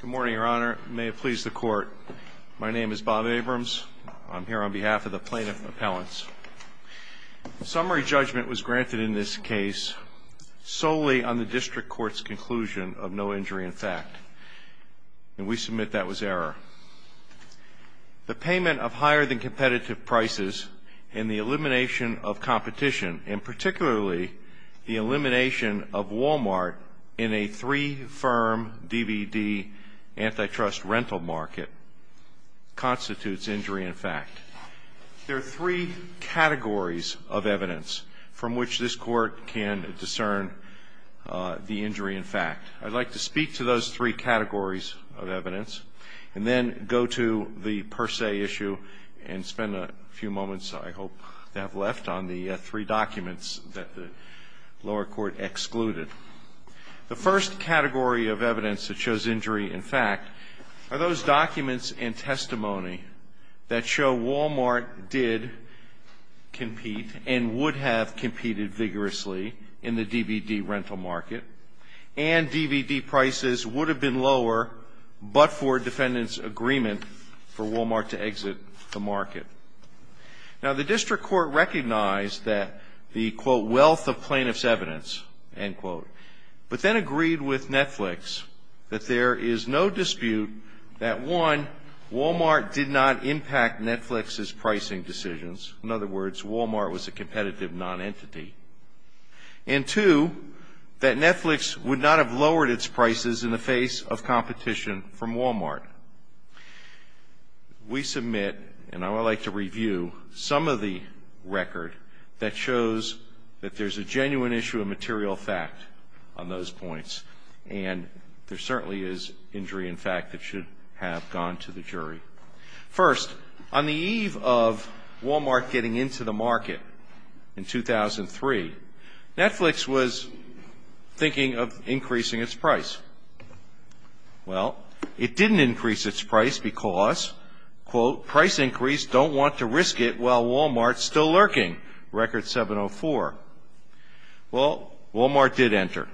Good morning, Your Honor. May it please the Court, my name is Bob Abrams. I'm here on behalf of the Plaintiff Appellants. Summary judgment was granted in this case solely on the District Court's conclusion of no injury in fact. And we submit that was error. The payment of higher than competitive prices and the elimination of competition, and particularly the elimination of Walmart in a three-firm DVD antitrust rental market constitutes injury in fact. There are three categories of evidence from which this Court can discern the injury in fact. I'd like to speak to those three categories of evidence and then go to the lower court, lower court excluded. The first category of evidence that shows injury in fact are those documents and testimony that show Walmart did compete and would have competed vigorously in the DVD rental market, and DVD prices would have been lower but for defendant's agreement for Walmart to exit the market. Now the District Court recognized that the quote, wealth of plaintiff's evidence, end quote, but then agreed with Netflix that there is no dispute that one, Walmart did not impact Netflix's pricing decisions. In other words, Walmart was a competitive non-entity. And two, that Netflix would not have lowered its prices in the face of competition from Walmart. We submit, and I would like to review, some of the record that shows that there's a genuine issue of material fact on those points, and there certainly is injury in fact that should have gone to the jury. First, on the eve of Walmart getting into the market in 2003, Netflix was thinking of increasing its price. Well, it didn't increase its price because, quote, price increase, don't want to risk it while Walmart's still lurking, record 704. Well, Walmart did enter.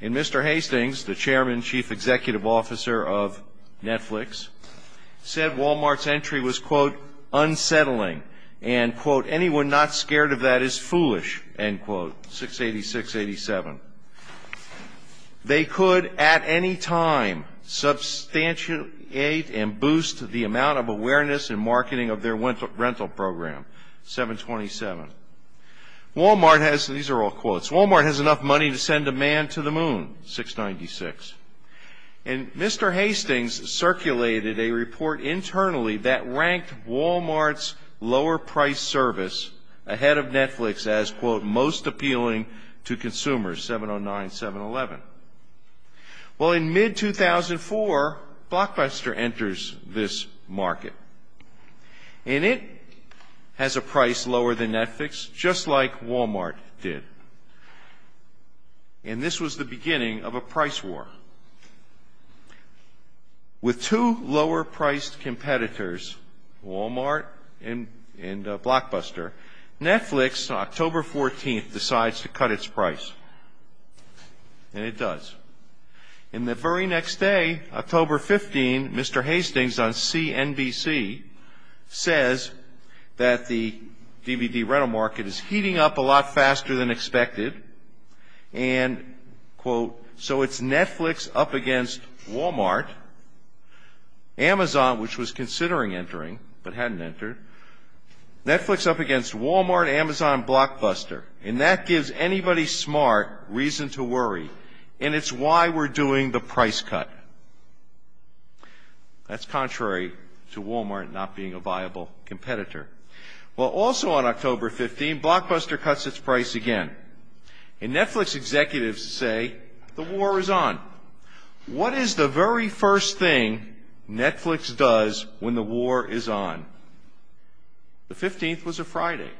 And Mr. Hastings, the Chairman Chief Executive Officer of Netflix, said Walmart's entry was, quote, unsettling, and, quote, anyone not scared of that is foolish, end quote, 686-87. They could at any time sell or substantiate and boost the amount of awareness and marketing of their rental program, 727. Walmart has, these are all quotes, Walmart has enough money to send a man to the moon, 696. And Mr. Hastings circulated a report internally that ranked Walmart's lower price service ahead of Netflix as, quote, most appealing to consumers, 709-711. Well, in mid-2004, Blockbuster enters this market. And it has a price lower than Netflix, just like Walmart did. And this was the beginning of a price war. With two lower-priced competitors, Walmart and Blockbuster, Netflix, October 14th, decides to cut its price. And it does. And the very next day, October 15, Mr. Hastings on CNBC says that the DVD rental market is heating up a lot faster than expected. And, quote, so it's Netflix up against Walmart, Amazon, which was considering entering but hadn't entered, Netflix up against Walmart, Amazon, Blockbuster. And that gives anybody smart reason to worry. And it's why we're doing the price cut. That's contrary to Walmart not being a viable competitor. Well, also on October 15, Blockbuster cuts its price again. And Netflix executives say the war is on. What is the very first thing Netflix does when the war is on? The 15th was a Friday.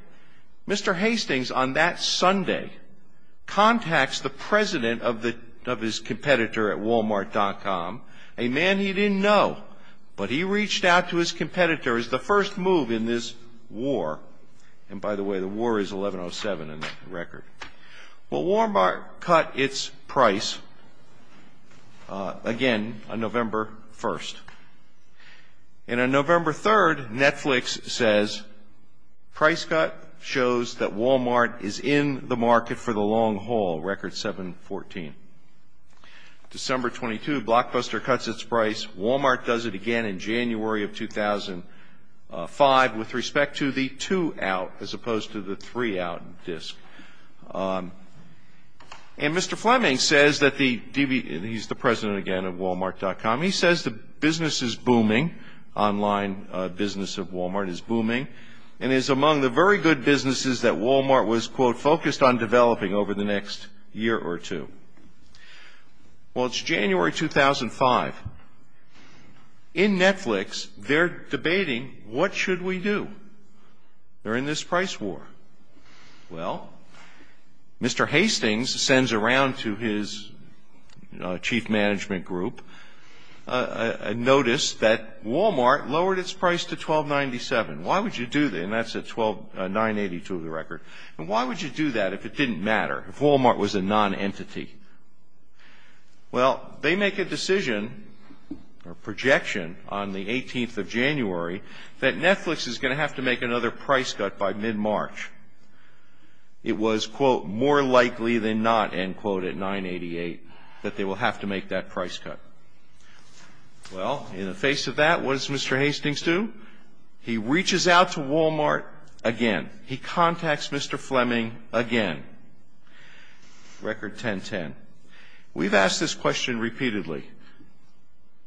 Mr. Hastings on that Sunday contacts the president of his competitor at walmart.com, a man he didn't know, but he reached out to his competitor as the first move in this war. And by the way, the war is 1107 in the record. Well, Walmart cut its price again on November 1. And on November 3, Netflix says price cut shows that Walmart is in the market for the long haul, record 714. December 22, Blockbuster cuts its price. Walmart does it again in January of 2005 with respect to the two out as opposed to the three out disc. And Mr. Fleming says that the DVD, and he's the president again of walmart.com, he says the business is booming, online business of Walmart is booming, and is among the very good businesses that Walmart was, quote, focused on developing over the next year or two. Well, it's January 2005. In Netflix, they're debating what should we do. They're in this price war. Well, Mr. Hastings sends around to his chief management group a notice that Walmart lowered its price to 1297. Why would you do that? And that's at 982 of the record. And why would you do that if it didn't matter, if Walmart was a nonentity? Well, they make a decision or projection on the 18th of January that Netflix is going to have to make another price cut by mid-March. It was, quote, more likely than not, end quote, at 988, that they will have to make that price cut. Well, in the face of that, what does Mr. Hastings do? He reaches out to Walmart again. He contacts Mr. Fleming again. Record 1010. We've asked this question repeatedly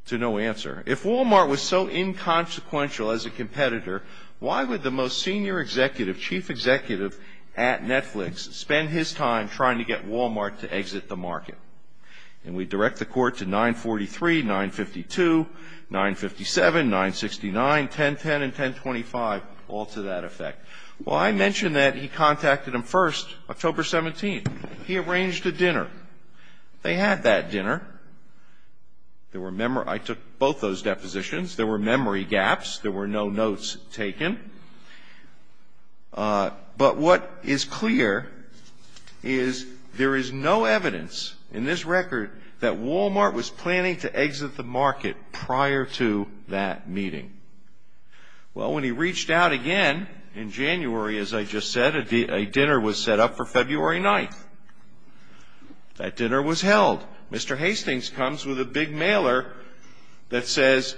to no answer. If Walmart was so inconsequential as a competitor, why would the most senior executive, chief executive at Netflix spend his time trying to get Walmart to exit the market? And we direct the court to 943, 952, 957, 969, 1010, and 1025, all to that effect. Well, I mentioned that he contacted them first October 17th. He arranged a dinner. They had that dinner. There were, I took both those depositions. There were memory gaps. There were no notes taken. But what is clear is there is no evidence in this record that Walmart was planning to exit the market prior to that meeting. Well, when he reached out again in January, as I just said, a dinner was set up for February 9th. That dinner was held. Mr. Hastings comes with a big mailer that says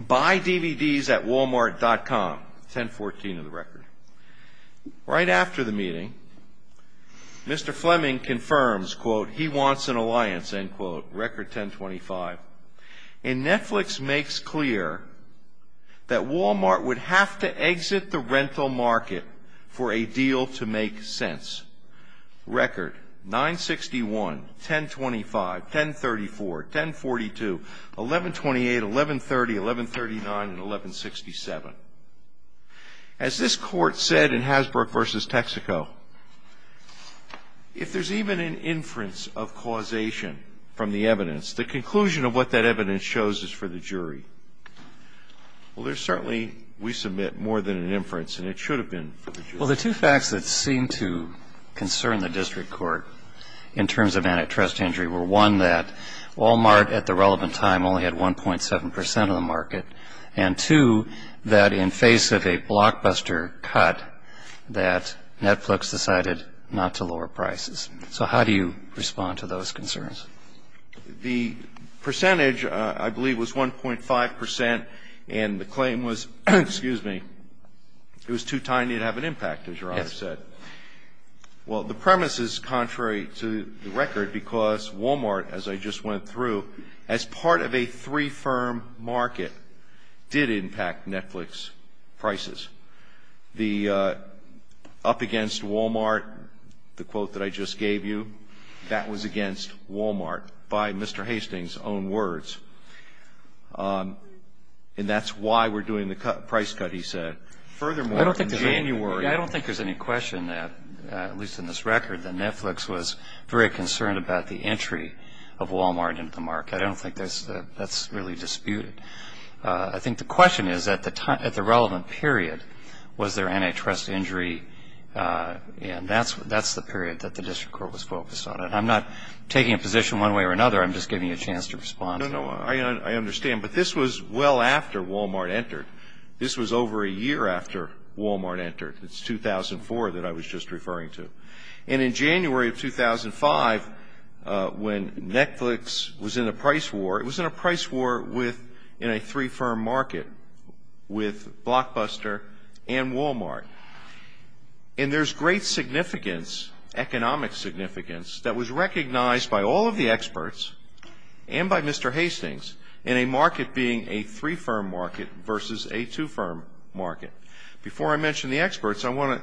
buyDVDsAtWalmart.com, 1014 of the record. Right after the meeting, Mr. Hastings comes with a big mailer that says buyDVDsAtWalmart.com, 1014 of the record. Right after the meeting, Mr. Fleming confirms, quote, he wants an alliance, end quote. Record 1025. And Netflix makes clear that Walmart would have to exit the rental market for a deal to make sense. Record 961, 1025, 1034, 1042, 1128, 1130, 1139, and 1167. As this court said in Hasbrook v. Texaco, if there's even an inference of causation from the evidence, the conclusion of what that evidence shows is for the jury. Well, there's certainly, we submit, more than an inference, and it should have been for the jury. Well, the two facts that seem to concern the district court in terms of antitrust injury were, one, that Walmart at the relevant time only had 1.7 percent of the market, and, two, that in face of a blockbuster cut that Netflix decided not to lower prices. So how do you respond to those concerns? The percentage, I believe, was 1.5 percent, and the claim was, excuse me, it was too tiny to have an impact, as Your Honor said. Yes. Well, the premise is contrary to the record, because Walmart, as I just went through, as part of a three-firm market, did impact Netflix prices. The up against Walmart the quote that I just gave you, that was against Walmart by Mr. Hastings' own words. And that's why we're doing the price cut, he said. Furthermore, in January I don't think there's any question that, at least in this record, that Netflix was very concerned about the entry of Walmart into the market. I don't think that's really disputed. I think the question is, at the time, at the relevant period, was there antitrust injury? And that's the period that the district court was focused on. And I'm not taking a position one way or another. I'm just giving you a chance to respond to that. No, no. I understand. But this was well after Walmart entered. This was over a year after Walmart entered. It's 2004 that I was just referring to. And in January of 2005, when I was in a three-firm market with Blockbuster and Walmart. And there's great significance, economic significance, that was recognized by all of the experts and by Mr. Hastings in a market being a three-firm market versus a two-firm market. Before I mention the experts, I want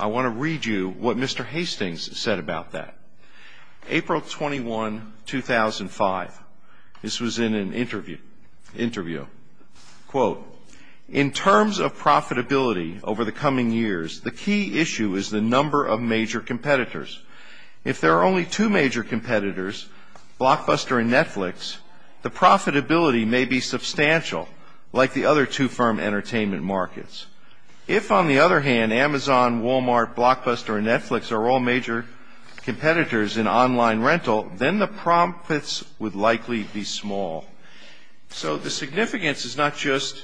to read you what Mr. Hastings said about that. April 21, 2005. This was in an interview. Quote, in terms of profitability over the coming years, the key issue is the number of major competitors. If there are only two major competitors, Blockbuster and Netflix, the profitability may be substantial, like the other two-firm entertainment markets. If, on the other hand, Amazon, Walmart, Blockbuster, and Netflix are all major competitors in online rental, then the profits would likely be small. So the significance is not just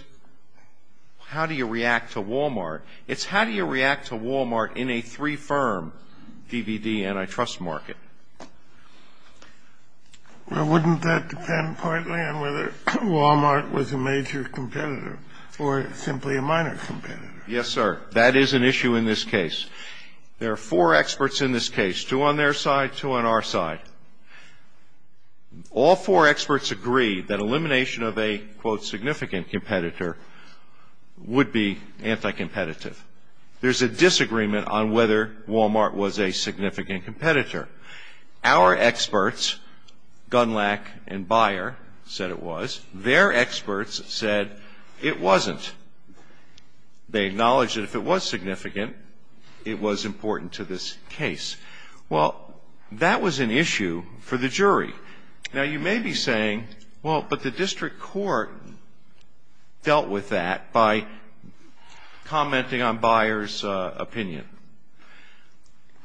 how do you react to Walmart. It's how do you react to Walmart in a three-firm DVD antitrust market. Well, wouldn't that depend partly on whether Walmart was a major competitor or simply a minor competitor? Yes, sir. That is an issue in this case. There are four experts in this case, two on their side, two on our side. All four experts agree that elimination of a, quote, significant competitor would be anti-competitive. There's a disagreement on whether Walmart was a significant competitor. Our experts, Gunlack and Beyer, said it was. Their experts said it wasn't. They acknowledged that if it was significant, it was important to this case. Well, that was an issue for the jury. Now, you may be saying, well, but the district court dealt with that by commenting on Beyer's opinion.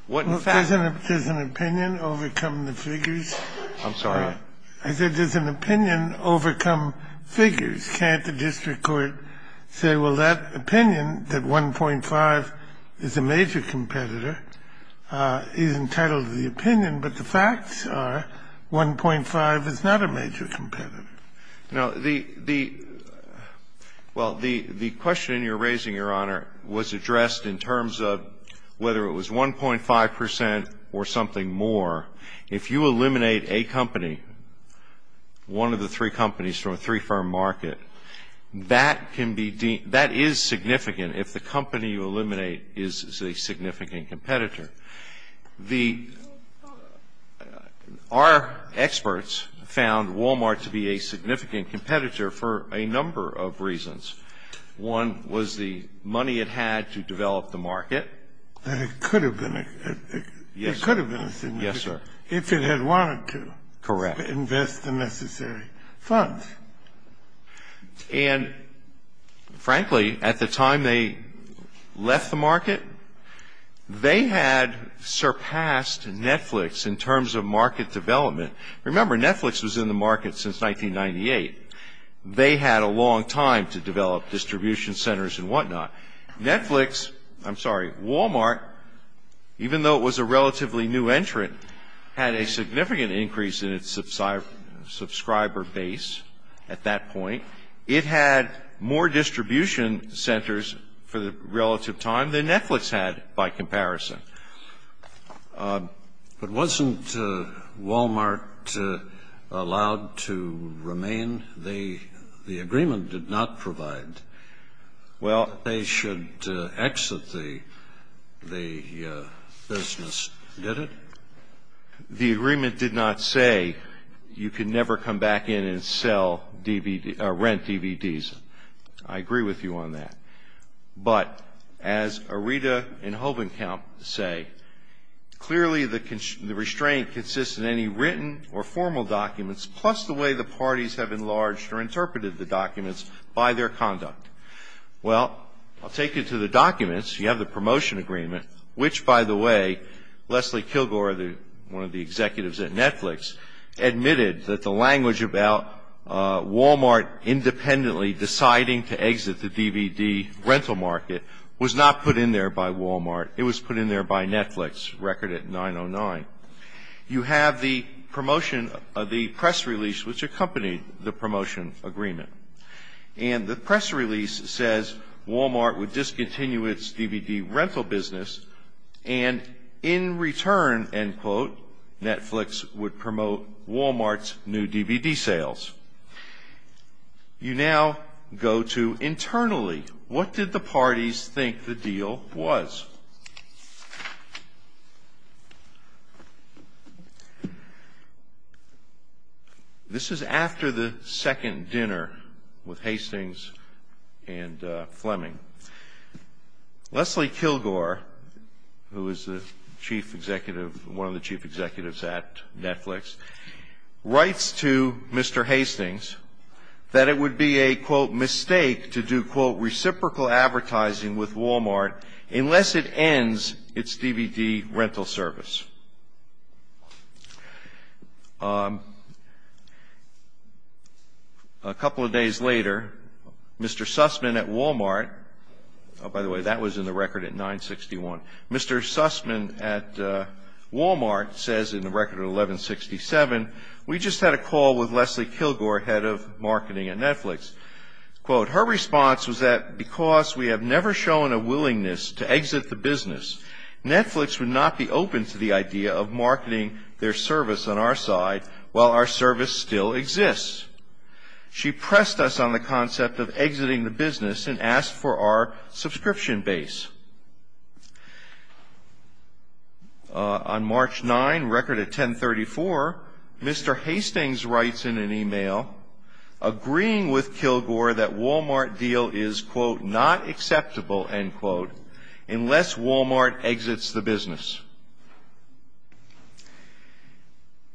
What, in fact… Well, doesn't an opinion overcome the figures? I'm sorry? I said, does an opinion overcome figures? Can't the district court say, well, that opinion, that 1.5 is a major competitor, is entitled to the opinion, but the facts are 1.5 is not a major competitor. Now, the… well, the question you're raising, Your Honor, was addressed in terms of whether it was 1.5 percent or something more. If you eliminate a company, one of the three companies from a three-firm market, that can be… that is significant if the company you eliminate is a significant competitor. The… our experts found Walmart to be a significant competitor for a number of reasons. One was the money it had to develop the market. That it could have been a… Yes, sir. It could have been a significant… Yes, sir.… if it had wanted to… Correct.… invest the necessary funds. And, frankly, at the time they left the market, they had surpassed Netflix in terms of market They had a long time to develop distribution centers and whatnot. Netflix… I'm sorry, Walmart, even though it was a relatively new entrant, had a significant increase in its subscriber base at that point. It had more distribution centers for the relative time than Netflix had by comparison. But wasn't Walmart allowed to remain? The agreement did not provide. Well, they should exit the business, did it? The agreement did not say you could never come back in and sell DVD… rent DVDs. I agree with you on that. But, as Arita and Hovenkamp say, clearly the… the restraint consists in any written or formal documents, plus the way the parties have enlarged or interpreted the documents by their conduct. Well, I'll take you to the documents. You have the promotion agreement, which, by the way, Leslie Kilgore, the… one of the executives at Netflix, admitted that the language about Walmart independently deciding to exit the DVD rental market was not put in there by Walmart. It was put in there by Netflix, record at 909. You have the promotion… the press release, which accompanied the promotion agreement. And the press release says Walmart would discontinue its DVD rental business and in return, end quote, Netflix would promote Walmart's new DVD sales. You now go to internally. What did the parties think the deal was? This is after the second dinner with Hastings and Fleming. Leslie Kilgore, who is the chief executive… one of the chief executives at Netflix, writes to Mr. Hastings that it would be a, quote, mistake to do, quote, reciprocal advertising with Walmart unless it ends its DVD rental service. A couple of days later, Mr. Sussman at Walmart… by the way, that was in the record at 961. Mr. Sussman at Walmart says in the record at 1167, we just had a call with Leslie Kilgore, head of marketing at Netflix. Quote, her response was that because we have never shown a willingness to exit the business, Netflix would not be open to the idea of marketing their service on our side while our service still exists. She pressed us on the concept of exiting the business and asked for our subscription base. On March 9, record at 1034, Mr. Hastings writes in an email, agreeing with Kilgore that Walmart deal is, quote, not acceptable, end quote, unless Walmart exits the business.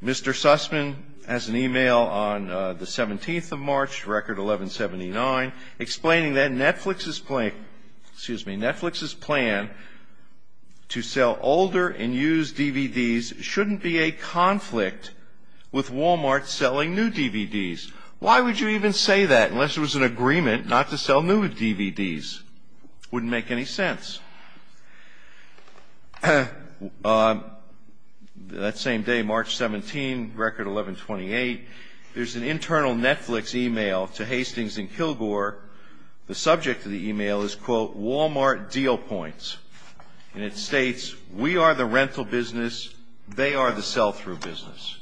Mr. Sussman has an email on the 17th of March, record 1179, explaining that Netflix's plan to sell older and used DVDs shouldn't be a conflict with Walmart selling new DVDs. Why would you even say that unless it was an agreement not to sell new DVDs? Wouldn't make any sense. That same day, March 17, record 1128, there's an internal Netflix email to Hastings and Kilgore. The subject of the email is, quote, Walmart deal points. And it states, we are the rental business, they are the sell-through business.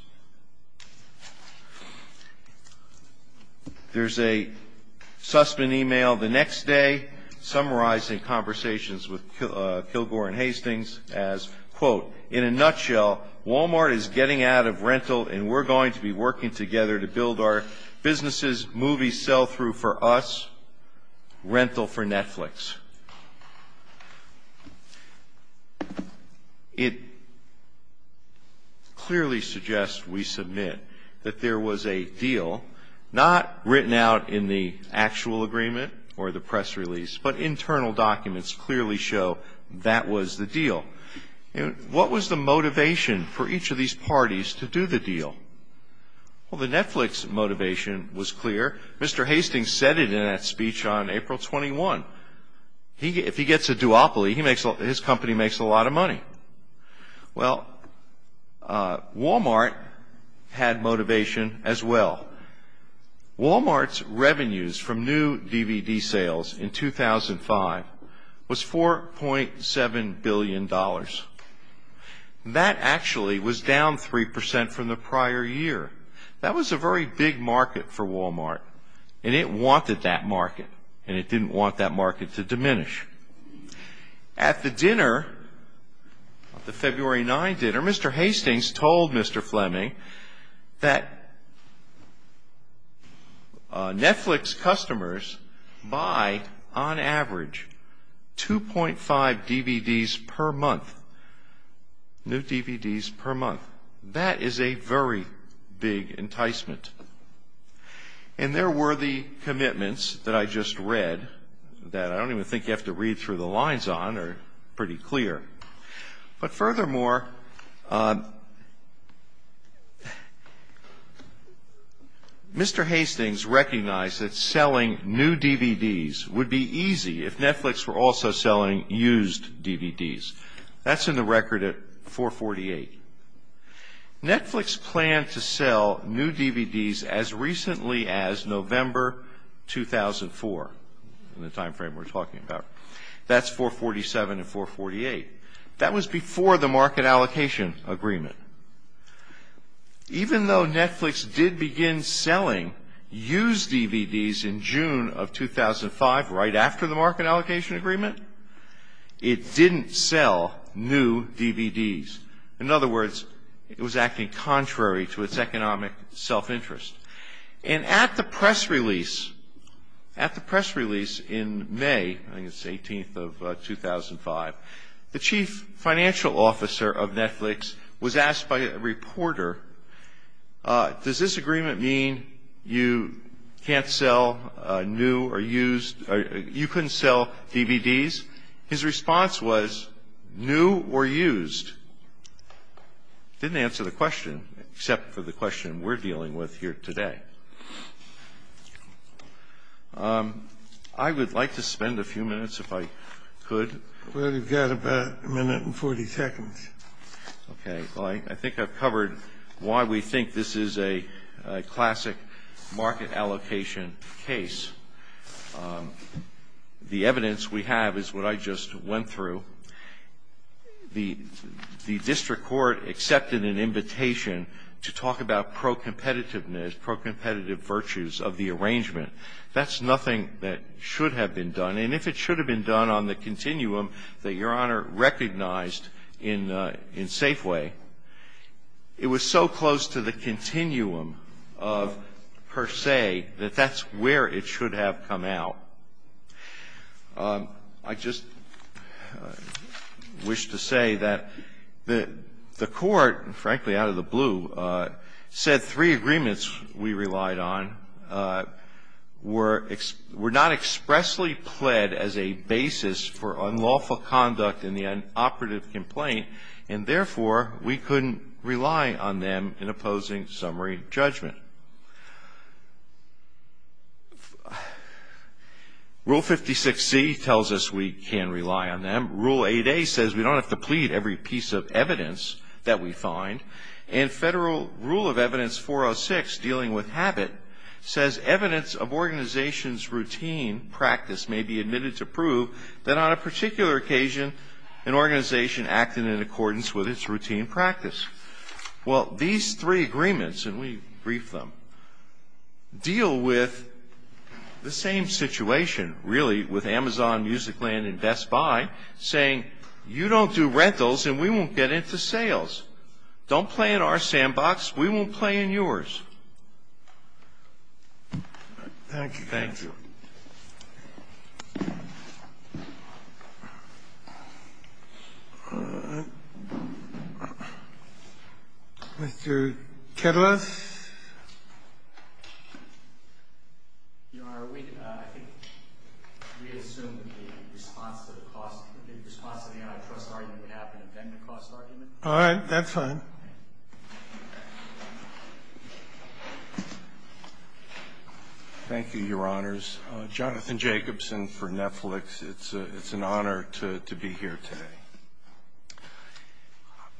There's a Sussman email the next day summarizing conversations with Kilgore and Hastings as, quote, in a nutshell, Walmart is getting out of rental and we're going to be working together to build our businesses, movies sell-through for us, rental for Netflix. It clearly suggests, we submit, that there was a deal, not written out in the actual agreement or the press release, but internal documents clearly show that was the deal. What was the motivation for each of these parties to do the deal? Well, the Netflix motivation was clear. Mr. Hastings said it in that speech on April 21. If he gets a duopoly, his company makes a lot of money. Well, Walmart had motivation as well. Walmart's revenues from new DVD sales in 2005 was $4.7 billion. That actually was down 3% from the prior year. That was a very big market for Walmart. And it wanted that market. And it didn't want that market to diminish. At the dinner, the February 9 dinner, Mr. Hastings told Mr. Fleming that Netflix customers buy, on average, 2.5 DVDs per month, new DVDs per month. That is a very big enticement. And there were the commitments that I just read that I don't even think you have to read through the lines on. They're pretty clear. But furthermore, Mr. Hastings recognized that selling new DVDs would be easy if Netflix were also selling used DVDs. That's in the record at $4.48. Netflix planned to sell new DVDs as recently as November 2004, in the timeframe we're talking about. That's $4.47 and $4.48. That was before the market allocation agreement. Even though Netflix did begin selling used DVDs in June of 2005, right after the market allocation agreement, it didn't sell new DVDs. In other words, it was acting contrary to its economic self-interest. And at the press release in May, I think it was 18th of 2005, the chief financial officer of Netflix was asked by a reporter, does this agreement mean you can't sell new or used, you couldn't sell DVDs? His response was new or used. Didn't answer the question, except for the question we're dealing with here today. I would like to spend a few minutes, if I could. Well, you've got about a minute and 40 seconds. Okay. Well, I think I've covered why we think this is a classic market allocation case. The evidence we have is what I just went through. The district court accepted an invitation to talk about pro-competitiveness, pro-competitive virtues of the arrangement. That's nothing that should have been done. And if it should have been done on the continuum that Your Honor recognized in Safeway, it was so close to the continuum of per se that that's where it should have come out. I just wish to say that the court, frankly, out of the blue, said three agreements we relied on were not expressly pled as a basis for unlawful conduct in the operative complaint, and therefore we couldn't rely on them in opposing summary judgment. Rule 56C tells us we can rely on them. Rule 8A says we don't have to plead every piece of evidence that we find. And Federal Rule of Evidence 406, dealing with habit, says evidence of organization's routine practice may be admitted to prove that on a particular occasion an organization acted in accordance with its routine practice. Well, these three agreements, and we briefed them, deal with the same situation really with Amazon, Musicland, and Best Buy, saying you don't do rentals and we won't get into sales. Don't play in our sandbox. We won't play in yours. Thank you. Thank you. Mr. Kittles? Your Honor, I think we assume the response to the cost, the response to the antitrust argument would happen to bend the cost argument. All right. That's fine. Thank you, Your Honors. Jonathan Jacobson for Netflix. It's an honor to be here today.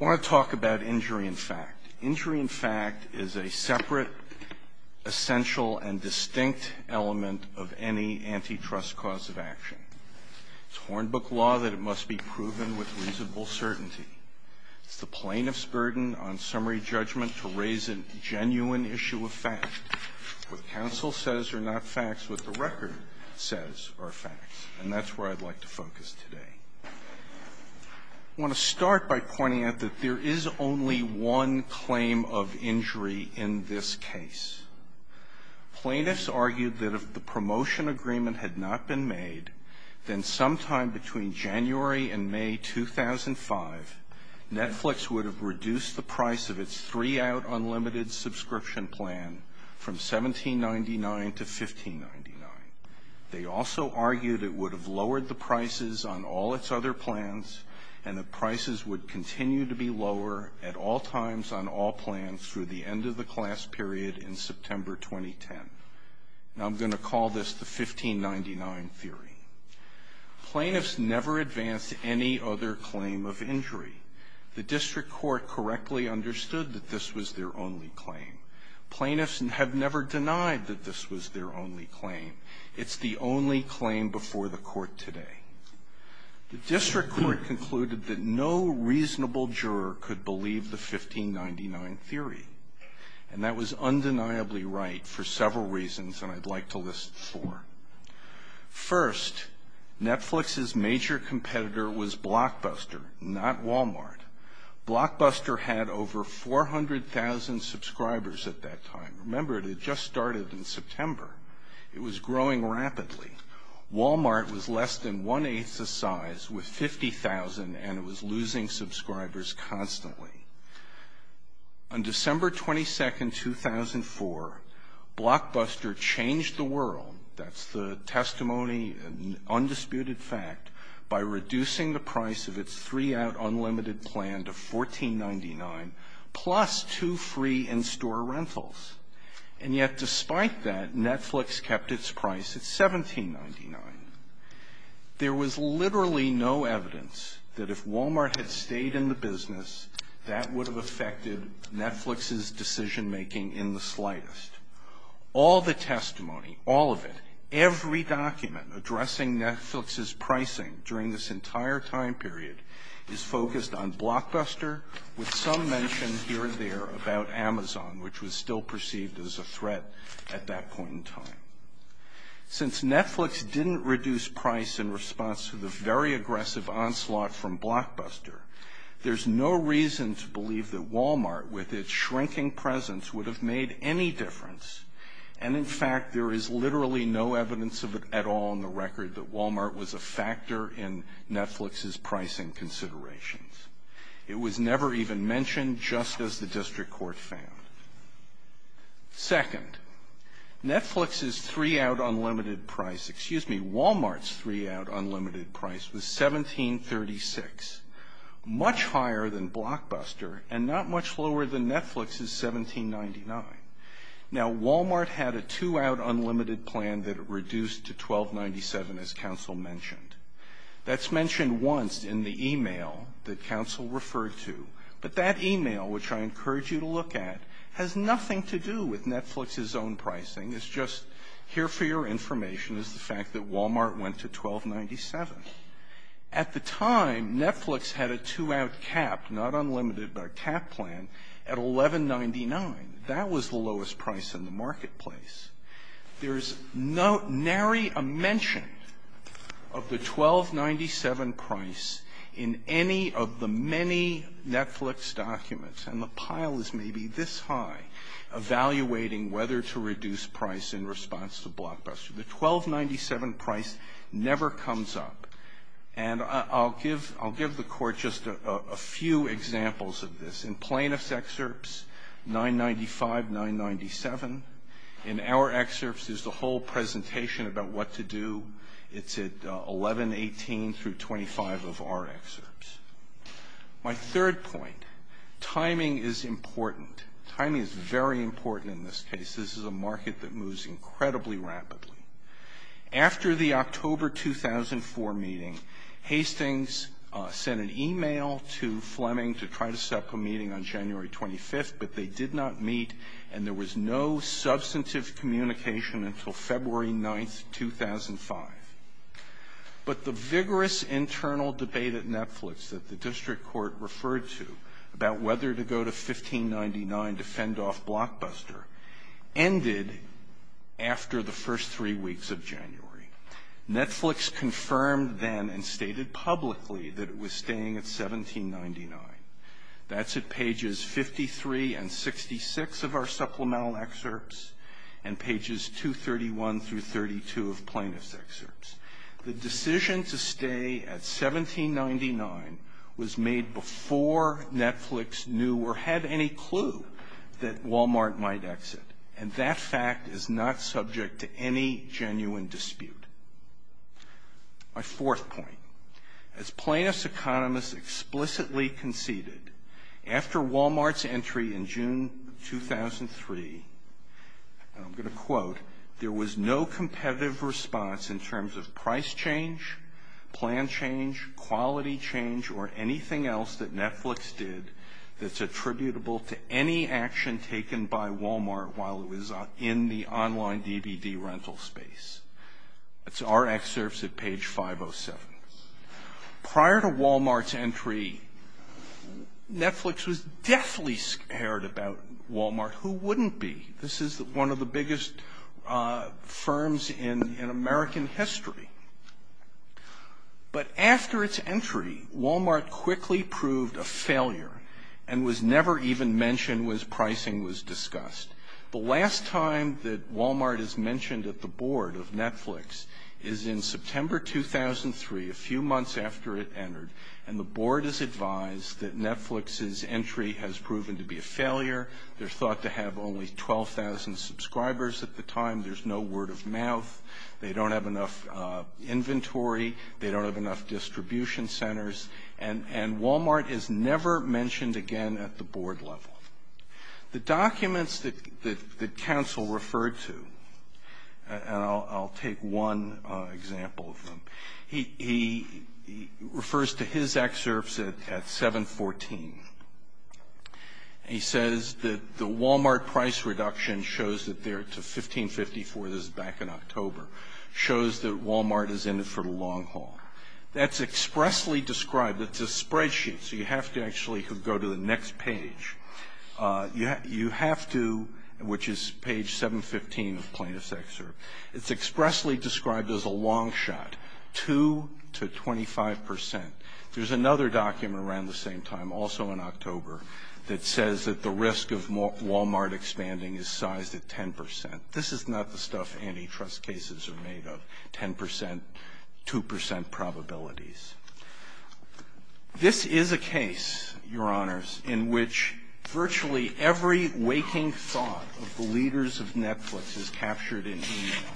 I want to talk about injury in fact. Injury in fact is a separate, essential, and distinct element of any antitrust cause of action. It's Hornbook law that it must be proven with reasonable certainty. It's the plaintiff's burden on summary judgment to raise a genuine issue of fact. What counsel says are not facts. What the record says are facts. And that's where I'd like to focus today. I want to start by pointing out that there is only one claim of injury in this case. Plaintiffs argued that if the promotion agreement had not been made, then sometime between January and May 2005, Netflix would have reduced the price of its three-out unlimited subscription plan from $17.99 to $15.99. They also argued it would have lowered the prices on all its other plans, and the prices would continue to be lower at all times on all plans through the end of the class period in September 2010. Now I'm going to call this the $15.99 theory. Plaintiffs never advanced any other claim of injury. The district court correctly understood that this was their only claim. Plaintiffs have never denied that this was their only claim. It's the only claim before the court today. The district court concluded that no reasonable juror could believe the $15.99 theory, and that was undeniably right for several reasons, and I'd like to list four. First, Netflix's major competitor was Blockbuster, not Walmart. Blockbuster had over 400,000 subscribers at that time. Remember, it had just started in September. It was growing rapidly. Walmart was less than one-eighth the size with 50,000, and it was losing subscribers constantly. On December 22, 2004, Blockbuster changed the world, that's the testimony and undisputed fact, by reducing the price of its three-out unlimited plan to $14.99 plus two free in-store rentals. And yet despite that, Netflix kept its price at $17.99. There was literally no evidence that if Walmart had stayed in the business, that would have affected Netflix's decision-making in the slightest. All the testimony, all of it, every document addressing Netflix's pricing during this entire time period is focused on Blockbuster, with some mention here and there about Amazon, which was still perceived as a threat at that point in time. Since Netflix didn't reduce price in response to the very aggressive onslaught from Blockbuster, there's no reason to believe that Walmart, with its shrinking presence, would have made any difference. And in fact, there is literally no evidence of it at all on the record that Walmart was a factor in Netflix's pricing considerations. It was never even mentioned, just as the district court found. Second, Netflix's three-out unlimited price, excuse me, Walmart's three-out unlimited price was $17.36, much higher than Blockbuster, and not much lower than Netflix's $17.99. Now, Walmart had a two-out unlimited plan that it reduced to $12.97, as counsel mentioned. That's mentioned once in the email that counsel referred to, but that email, which I encourage you to look at, has nothing to do with Netflix's own pricing. It's just here for your information is the fact that Walmart went to $12.97. At the time, Netflix had a two-out cap, not unlimited, but a cap plan at $11.99. That was the lowest price in the marketplace. There is no nary a mention of the $12.97 price in any of the many Netflix documents, and the pile is maybe this high, evaluating whether to reduce price in response to Blockbuster. The $12.97 price never comes up. And I'll give the Court just a few examples of this. In plaintiff's excerpts, $9.95, $9.97. In our excerpts, there's the whole presentation about what to do. It's at $11.18 through $25 of our excerpts. My third point, timing is important. Timing is very important in this case. This is a market that moves incredibly rapidly. After the October 2004 meeting, Hastings sent an email to Fleming to try to set up a meeting on January 25th, but they did not meet, and there was no substantive communication until February 9th, 2005. But the vigorous internal debate at Netflix that the district court referred to about whether to go to $15.99 to fend off Blockbuster ended after the first three weeks of January. Netflix confirmed then and stated publicly that it was staying at $17.99. That's at pages 53 and 66 of our supplemental excerpts and pages 231 through 32 of plaintiff's excerpts. The decision to stay at $17.99 was made before Netflix knew or had any clue that Walmart might exit, and that fact is not subject to any genuine dispute. My fourth point, as plaintiff's economists explicitly conceded, after Walmart's entry in June 2003, and I'm going to quote, there was no competitive response in terms of price change, plan change, quality change, or anything else that Netflix did that's attributable to any action taken by Walmart while it was in the online DVD rental space. That's our excerpts at page 507. Prior to Walmart's entry, Netflix was deathly scared about Walmart. Who wouldn't be? This is one of the biggest firms in American history. But after its entry, Walmart quickly proved a failure and was never even mentioned when pricing was discussed. The last time that Walmart is mentioned at the board of Netflix is in September 2003, a few months after it entered, and the board is advised that Netflix's entry has proven to be a failure. They're thought to have only 12,000 subscribers at the time. There's no word of mouth. They don't have enough inventory. They don't have enough distribution centers. And Walmart is never mentioned again at the board level. The documents that counsel referred to, and I'll take one example of them, he refers to his excerpts at 714. He says that the Walmart price reduction shows that they're to 1554, this is back in October, shows that Walmart is in it for the long haul. That's expressly described. It's a spreadsheet, so you have to actually go to the next page. You have to, which is page 715 of the plaintiff's excerpt, it's expressly described as a long shot, 2% to 25%. There's another document around the same time, also in October, that says that the risk of Walmart expanding is sized at 10%. This is not the stuff antitrust cases are made of, 10%, 2% probabilities. This is a case, Your Honors, in which virtually every waking thought of the leaders of Netflix is captured in e-mail.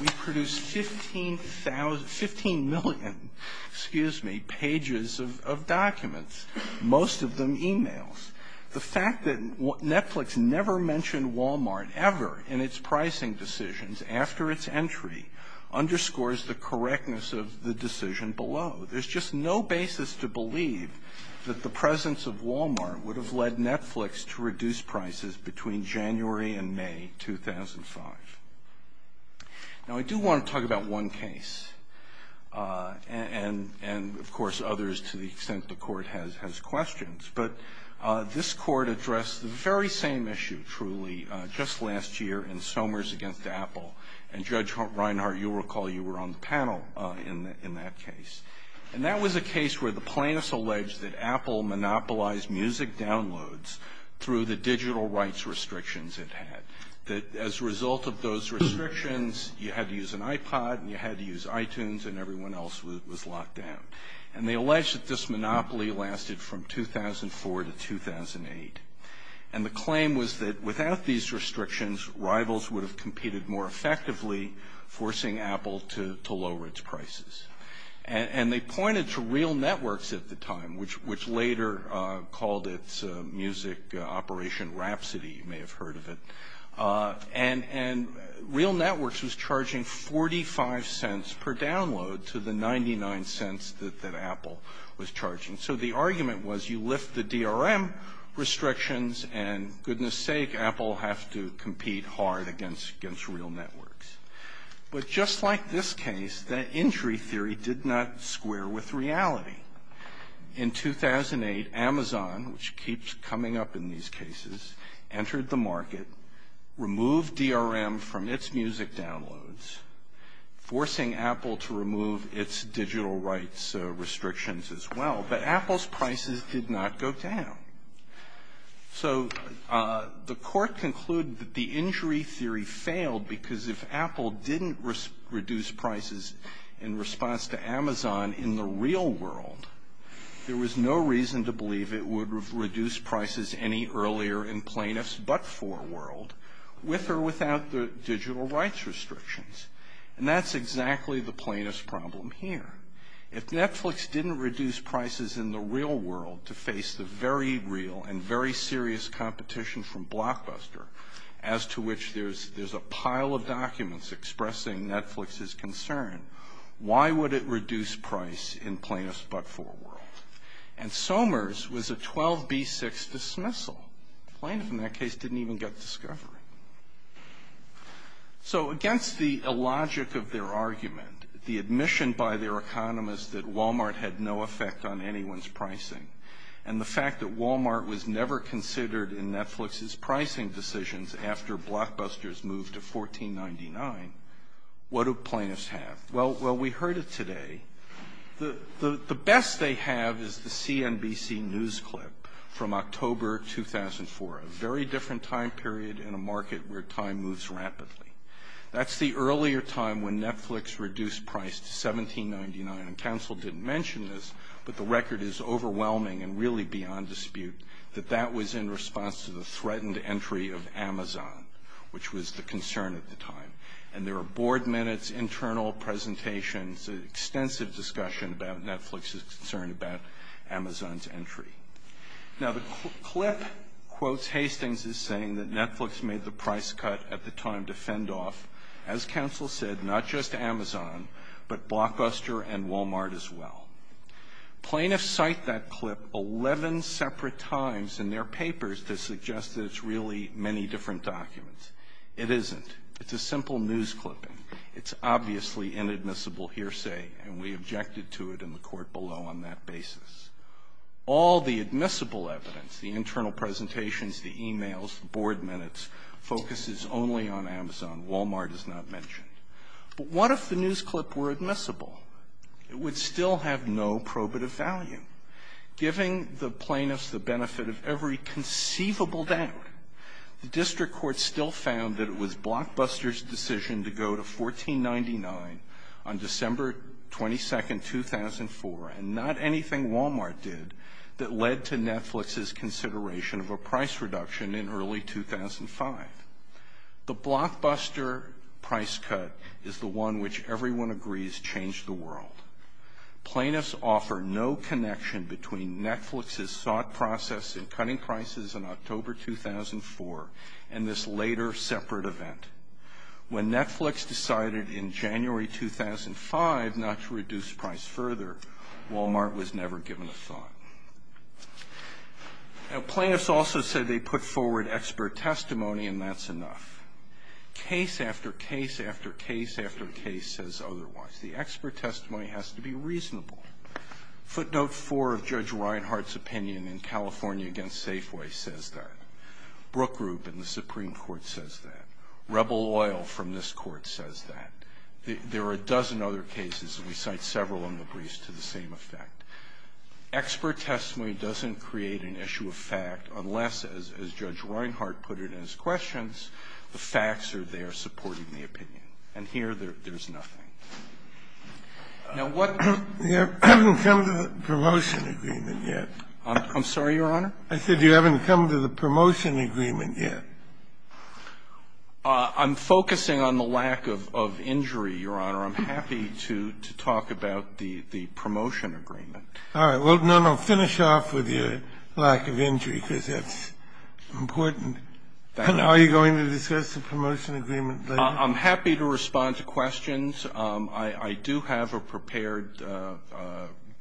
We produce 15,000, 15 million, excuse me, pages of documents, most of them e-mails. The fact that Netflix never mentioned Walmart ever in its pricing decisions after its entry underscores the correctness of the decision below. There's just no basis to believe that the presence of Walmart would have led Netflix to reduce prices between January and May 2005. Now, I do want to talk about one case and, of course, others to the extent the court has questions. But this court addressed the very same issue, truly, just last year in Somers against Apple. And, Judge Reinhart, you'll recall you were on the panel in that case. And that was a case where the plaintiffs alleged that Apple monopolized music downloads through the digital rights restrictions it had. As a result of those restrictions, you had to use an iPod and you had to use iTunes, and everyone else was locked down. And they alleged that this monopoly lasted from 2004 to 2008. And the claim was that without these restrictions, rivals would have competed more effectively, forcing Apple to lower its prices. And they pointed to Real Networks at the time, which later called its music operation Rhapsody. You may have heard of it. And Real Networks was charging $0.45 per download to the $0.99 that Apple was charging. So the argument was you lift the DRM restrictions, and goodness sake, Apple will have to compete hard against Real Networks. But just like this case, that injury theory did not square with reality. In 2008, Amazon, which keeps coming up in these cases, entered the market, removed DRM from its music downloads, forcing Apple to remove its digital rights restrictions as well. But Apple's prices did not go down. So the court concluded that the injury theory failed because if Apple didn't reduce prices in response to Amazon in the real world, there was no reason to believe it would reduce prices any earlier in plaintiff's but-for world, with or without the digital rights restrictions. And that's exactly the plaintiff's problem here. If Netflix didn't reduce prices in the real world to face the very real and very serious competition from Blockbuster, as to which there's a pile of documents expressing Netflix's concern, why would it reduce price in plaintiff's but-for world? And Somers was a 12B6 dismissal. The plaintiff in that case didn't even get discovery. So against the illogic of their argument, the admission by their economist that Walmart had no effect on anyone's pricing, and the fact that Walmart was never considered in Netflix's pricing decisions after Blockbuster's move to $14.99, what do plaintiffs have? Well, we heard it today. The best they have is the CNBC news clip from October 2004, a very different time period in a market where time moves rapidly. That's the earlier time when Netflix reduced price to $17.99. And counsel didn't mention this, but the record is overwhelming and really beyond dispute that that was in response to the threatened entry of Amazon, which was the concern at the time. And there were board minutes, internal presentations, extensive discussion about Netflix's concern about Amazon's entry. Now, the clip quotes Hastings as saying that Netflix made the price cut at the time to fend off, as counsel said, not just Amazon, but Blockbuster and Walmart as well. Plaintiffs cite that clip 11 separate times in their papers to suggest that it's really many different documents. It isn't. It's a simple news clipping. It's obviously inadmissible hearsay, and we objected to it in the court below on that basis. All the admissible evidence, the internal presentations, the emails, the board minutes, focuses only on Amazon. Walmart is not mentioned. But what if the news clip were admissible? It would still have no probative value. Giving the plaintiffs the benefit of every conceivable doubt, the district court still found that it was Blockbuster's decision to go to $14.99 on December 22, 2004, and not anything Walmart did that led to Netflix's consideration of a price reduction in early 2005. The Blockbuster price cut is the one which everyone agrees changed the world. Plaintiffs offer no connection between Netflix's thought process in cutting prices in October 2004 and this later separate event. When Netflix decided in January 2005 not to reduce price further, Walmart was never given a thought. Now, plaintiffs also said they put forward expert testimony, and that's enough. Case after case after case after case says otherwise. The expert testimony has to be reasonable. Footnote 4 of Judge Reinhart's opinion in California against Safeway says that. Brook Group in the Supreme Court says that. Rebel Oil from this Court says that. There are a dozen other cases, and we cite several in the briefs to the same effect. Expert testimony doesn't create an issue of fact unless, as Judge Reinhart put it in his questions, the facts are there supporting the opinion. And here, there's nothing. Now, what do you do? I haven't come to the promotion agreement yet. I'm sorry, Your Honor? I said you haven't come to the promotion agreement yet. I'm focusing on the lack of injury, Your Honor. I'm happy to talk about the promotion agreement. All right. Well, no, no, finish off with your lack of injury, because that's important. Thank you. Are you going to discuss the promotion agreement later? I'm happy to respond to questions. I do have a prepared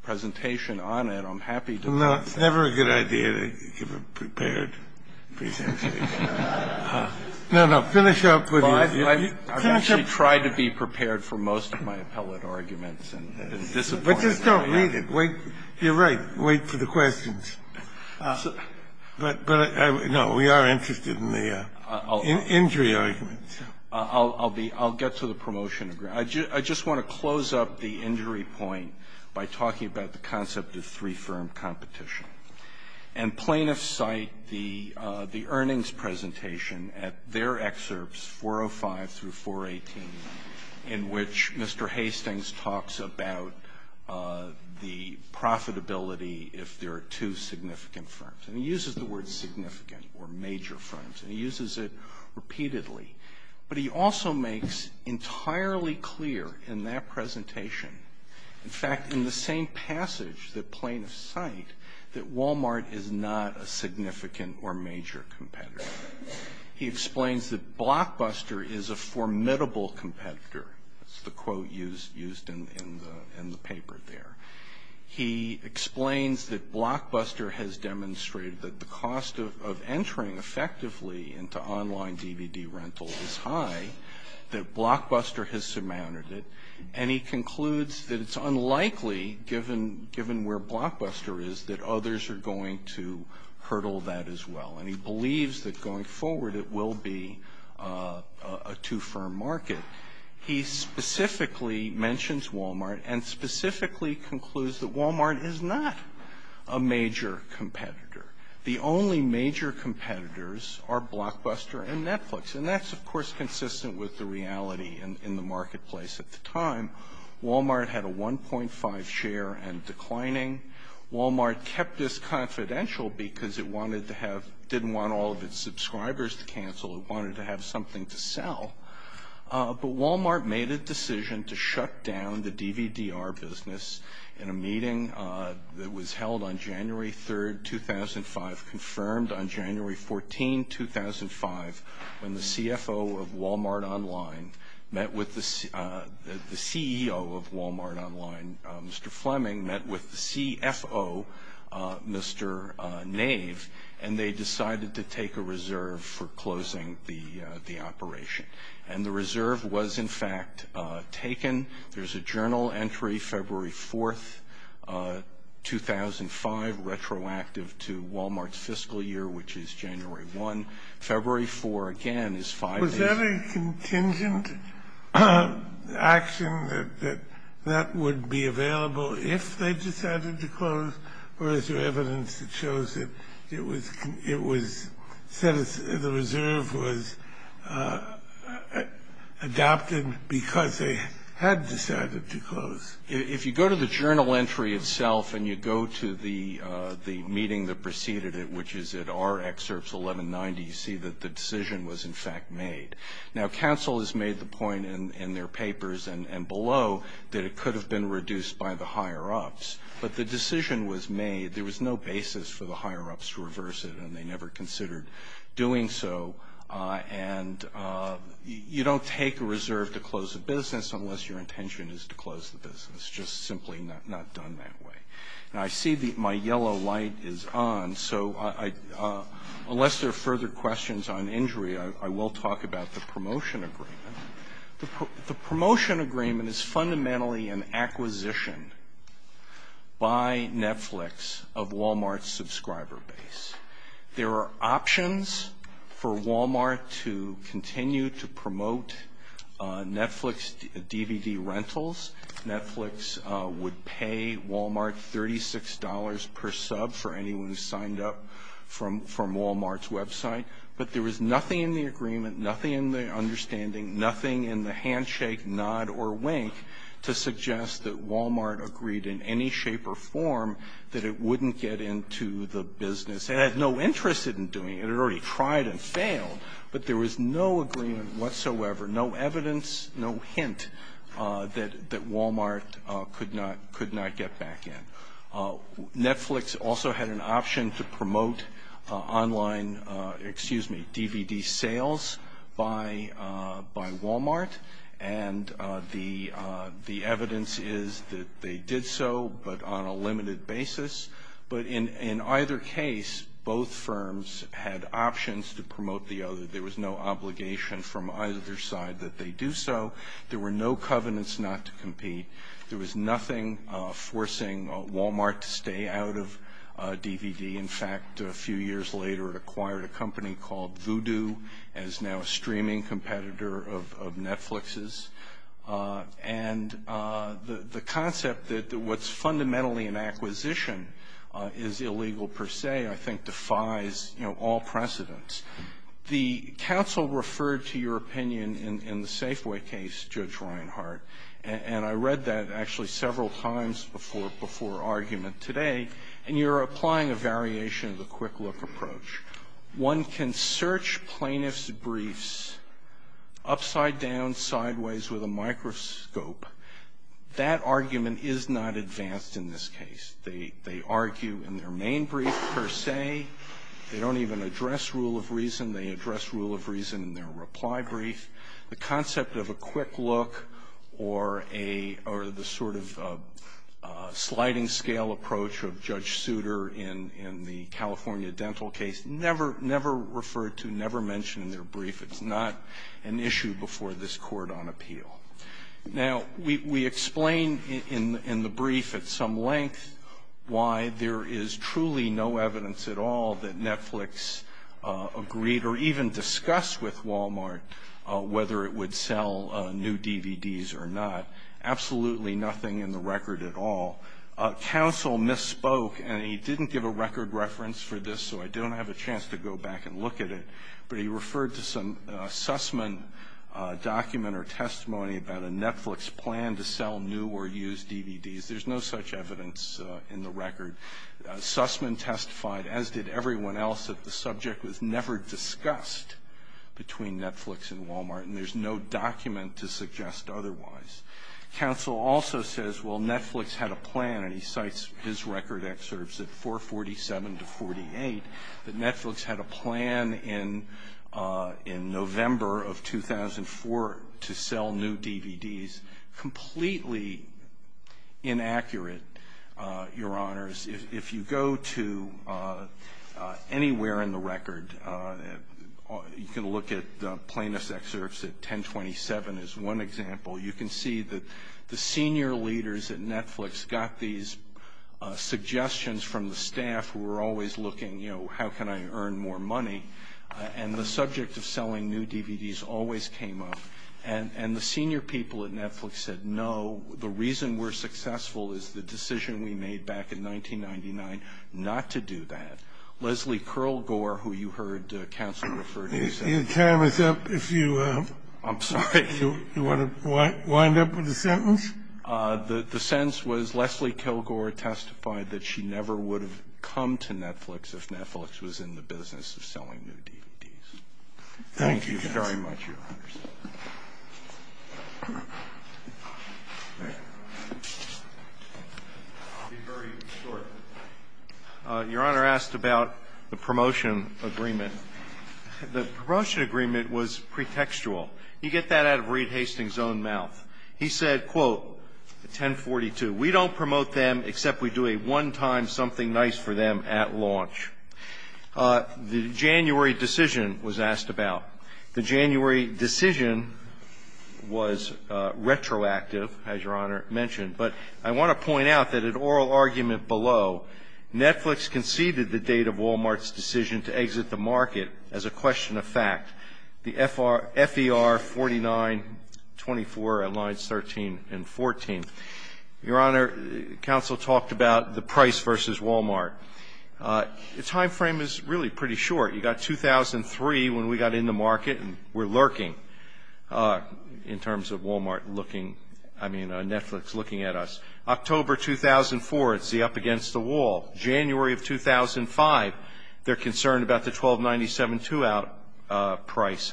presentation on it. I'm happy to respond. Well, no, it's never a good idea to give a prepared presentation. No, no, finish up with your ---- Well, I've actually tried to be prepared for most of my appellate arguments and disappointed. But just don't read it. You're right. Wait for the questions. But, no, we are interested in the injury arguments. I'll get to the promotion agreement. I just want to close up the injury point by talking about the concept of three-firm competition. And plaintiffs cite the earnings presentation at their excerpts, 405 through 418, in which Mr. Hastings talks about the profitability if there are two significant firms. And he uses the word significant or major firms. And he uses it repeatedly. But he also makes entirely clear in that presentation, in fact, in the same passage that plaintiffs cite, that Walmart is not a significant or major competitor. He explains that Blockbuster is a formidable competitor. That's the quote used in the paper there. He explains that Blockbuster has demonstrated that the cost of entering effectively into online DVD rental is high, that Blockbuster has surmounted it. And he concludes that it's unlikely, given where Blockbuster is, that others are going to hurdle that as well. And he believes that going forward it will be a two-firm market. He specifically mentions Walmart and specifically concludes that Walmart is not a major competitor. The only major competitors are Blockbuster and Netflix. And that's, of course, consistent with the reality in the marketplace at the time. Walmart had a 1.5 share and declining. Walmart kept this confidential because it didn't want all of its subscribers to cancel. It wanted to have something to sell. But Walmart made a decision to shut down the DVD-R business in a meeting that was held on January 3, 2005, confirmed on January 14, 2005, when the CFO of Walmart Online met with the CEO of Walmart Online, Mr. Fleming, met with the CFO, Mr. Nave, and they decided to take a reserve for closing the operation. And the reserve was, in fact, taken. There's a journal entry, February 4, 2005, retroactive to Walmart's fiscal year, which is January 1. February 4, again, is five days. Is that a contingent action that that would be available if they decided to close, or is there evidence that shows that it was set as the reserve was adopted because they had decided to close? If you go to the journal entry itself and you go to the meeting that preceded it, which is at our excerpts, 1190, you see that the decision was, in fact, made. Now, counsel has made the point in their papers and below that it could have been reduced by the higher-ups. But the decision was made. There was no basis for the higher-ups to reverse it, and they never considered doing so. And you don't take a reserve to close a business unless your intention is to close the business. It's just simply not done that way. Now, I see my yellow light is on. So unless there are further questions on injury, I will talk about the promotion agreement. The promotion agreement is fundamentally an acquisition by Netflix of Walmart's subscriber base. There are options for Walmart to continue to promote Netflix DVD rentals. Netflix would pay Walmart $36 per sub for anyone who signed up from Walmart's website. But there was nothing in the agreement, nothing in the understanding, nothing in the handshake, nod, or wink to suggest that Walmart agreed in any shape or form that it wouldn't get into the business. It had no interest in doing it. It had already tried and failed. But there was no agreement whatsoever, no evidence, no hint that Walmart could not get back in. Netflix also had an option to promote online DVD sales by Walmart, and the evidence is that they did so but on a limited basis. But in either case, both firms had options to promote the other. There was no obligation from either side that they do so. There were no covenants not to compete. There was nothing forcing Walmart to stay out of DVD. In fact, a few years later it acquired a company called Vudu as now a streaming competitor of Netflix's. And the concept that what's fundamentally an acquisition is illegal per se I think defies all precedence. The counsel referred to your opinion in the Safeway case, Judge Reinhart, and I read that actually several times before argument today, and you're applying a variation of the quick-look approach. One can search plaintiff's briefs upside down, sideways with a microscope. That argument is not advanced in this case. They argue in their main brief per se. They don't even address rule of reason. They address rule of reason in their reply brief. The concept of a quick look or the sort of sliding scale approach of Judge Souter in the California dental case, never referred to, never mentioned in their brief. It's not an issue before this court on appeal. Now, we explain in the brief at some length why there is truly no evidence at all that Netflix agreed or even discussed with Walmart whether it would sell new DVDs or not. Absolutely nothing in the record at all. Counsel misspoke, and he didn't give a record reference for this, so I don't have a chance to go back and look at it, but he referred to some Sussman document or testimony about a Netflix plan to sell new or used DVDs. There's no such evidence in the record. Sussman testified, as did everyone else, that the subject was never discussed between Netflix and Walmart, and there's no document to suggest otherwise. Counsel also says, well, Netflix had a plan, and he cites his record excerpts at 447 to 48, that Netflix had a plan in November of 2004 to sell new DVDs. Completely inaccurate, Your Honors. If you go to anywhere in the record, you can look at plaintiff's excerpts at 1027 is one example. You can see that the senior leaders at Netflix got these suggestions from the staff who were always looking, you know, how can I earn more money, and the subject of selling new DVDs always came up, and the senior people at Netflix said, no, the reason we're successful is the decision we made back in 1999 not to do that. Leslie Kilgore, who you heard Counsel refer to, said that. Can you time us up if you want to wind up with a sentence? The sentence was Leslie Kilgore testified that she never would have come to Netflix if Netflix was in the business of selling new DVDs. Thank you, Counsel. Thank you, Your Honors. I'll be very short. Your Honor asked about the promotion agreement. The promotion agreement was pretextual. You get that out of Reed Hastings' own mouth. He said, quote, at 1042, we don't promote them except we do a one-time something nice for them at launch. The January decision was asked about. The January decision was retroactive, as Your Honor mentioned, but I want to point out that an oral argument below, Netflix conceded the date of Walmart's decision to exit the market as a question of fact, the FER 4924 at lines 13 and 14. Your Honor, Counsel talked about the price versus Walmart. The time frame is really pretty short. You got 2003 when we got in the market and we're lurking in terms of Walmart looking, I mean Netflix looking at us. October 2004, it's the up against the wall. January of 2005, they're concerned about the 1297 two-out price.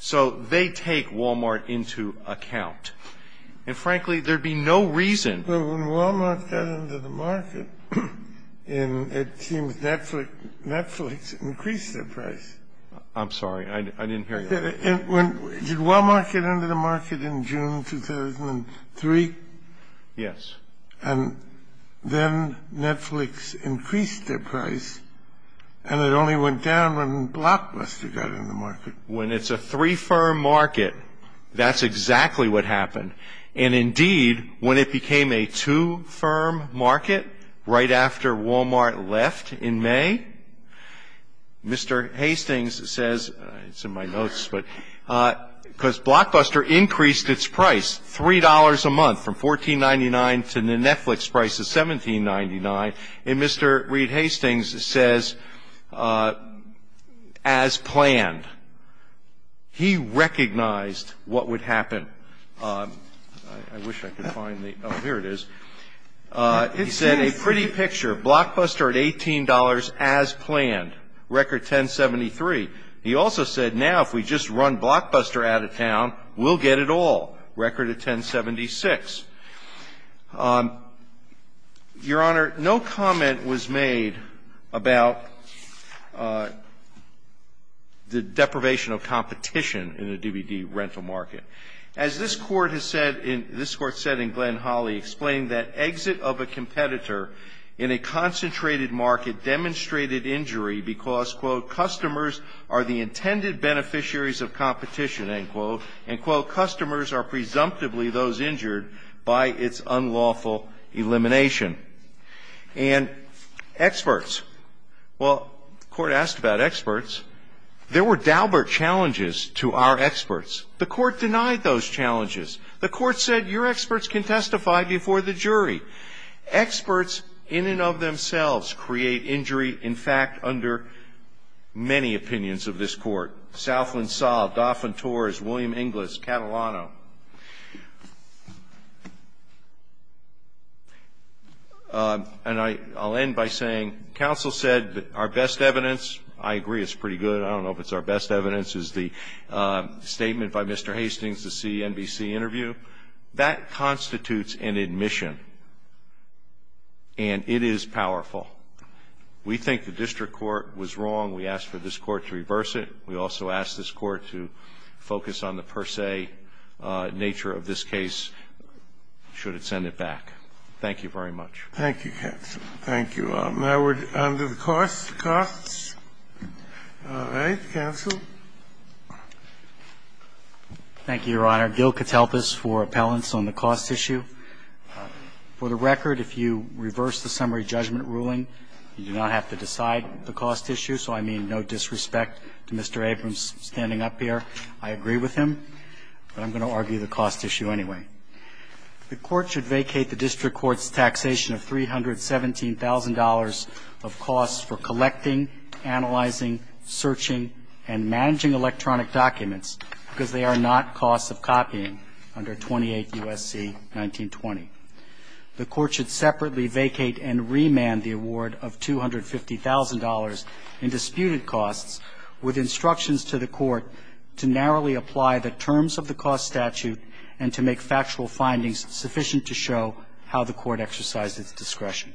So they take Walmart into account. And, frankly, there'd be no reason. But when Walmart got into the market and it seems Netflix increased their price. I'm sorry. I didn't hear you. Did Walmart get into the market in June 2003? Yes. And then Netflix increased their price and it only went down when Blockbuster got in the market. When it's a three-fer market, that's exactly what happened. And, indeed, when it became a two-firm market right after Walmart left in May, Mr. Hastings says, it's in my notes, but because Blockbuster increased its price $3 a month from $14.99 to the Netflix price of $17.99, and Mr. Reed Hastings says, as planned, he recognized what would happen. I wish I could find the, oh, here it is. He said, a pretty picture, Blockbuster at $18 as planned, record $10.73. He also said, now if we just run Blockbuster out of town, we'll get it all, record at $10.76. Your Honor, no comment was made about the deprivation of competition in a DBD rental market. As this Court has said in Glenn Holly, explaining that exit of a competitor in a concentrated market demonstrated injury because, quote, customers are the intended beneficiaries of competition, end quote. End quote. Customers are presumptively those injured by its unlawful elimination. And experts. Well, the Court asked about experts. There were doubler challenges to our experts. The Court denied those challenges. The Court said, your experts can testify before the jury. Experts in and of themselves create injury, in fact, under many opinions of this Court. Southland Saul, Dauphin Torres, William Inglis, Catalano. And I'll end by saying counsel said our best evidence, I agree it's pretty good, I don't know if it's our best evidence, is the statement by Mr. Hastings, the CNBC interview. That constitutes an admission. And it is powerful. We think the district court was wrong. We ask for this Court to reverse it. We also ask this Court to focus on the per se nature of this case should it send it back. Thank you very much. Thank you, counsel. Thank you. Now we're on to the costs. All right. Counsel. Thank you, Your Honor. Gil Katelpas for appellants on the cost issue. For the record, if you reverse the summary judgment ruling, you do not have to decide the cost issue. So I mean no disrespect to Mr. Abrams standing up here. I agree with him. But I'm going to argue the cost issue anyway. The Court should vacate the district court's taxation of $317,000 of costs for collecting, analyzing, searching, and managing electronic documents because they are not costs of copying under 28 U.S.C. 1920. The Court should separately vacate and remand the award of $250,000 in disputed costs with instructions to the Court to narrowly apply the terms of the cost statute and to make factual findings sufficient to show how the Court exercised its discretion.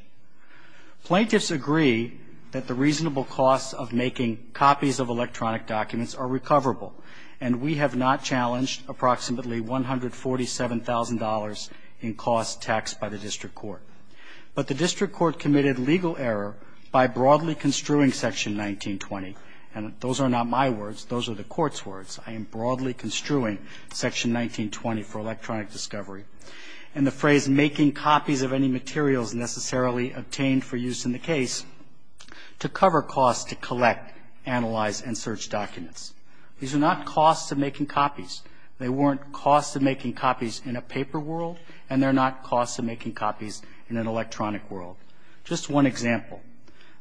Plaintiffs agree that the reasonable costs of making copies of electronic documents are recoverable. And we have not challenged approximately $147,000 in costs taxed by the district court. But the district court committed legal error by broadly construing Section 1920. And those are not my words. Those are the Court's words. I am broadly construing Section 1920 for electronic discovery. And the phrase making copies of any materials necessarily obtained for use in the case to cover costs to collect, analyze, and search documents. These are not costs of making copies. They weren't costs of making copies in a paper world, and they're not costs of making copies in an electronic world. Just one example.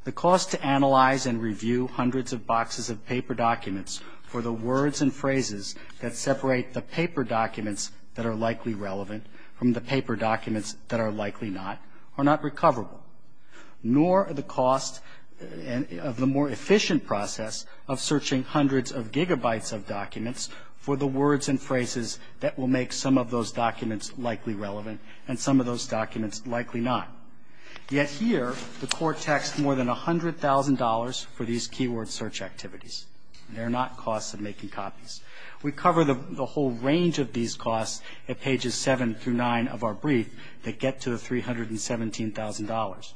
The cost to analyze and review hundreds of boxes of paper documents for the words and phrases that separate the paper documents that are likely relevant from the paper documents that are likely not are not recoverable. Nor are the costs of the more efficient process of searching hundreds of gigabytes of documents for the words and phrases that will make some of those documents likely relevant and some of those documents likely not. Yet here, the Court taxed more than $100,000 for these keyword search activities. They're not costs of making copies. We cover the whole range of these costs at pages 7 through 9 of our brief that get to the $317,000.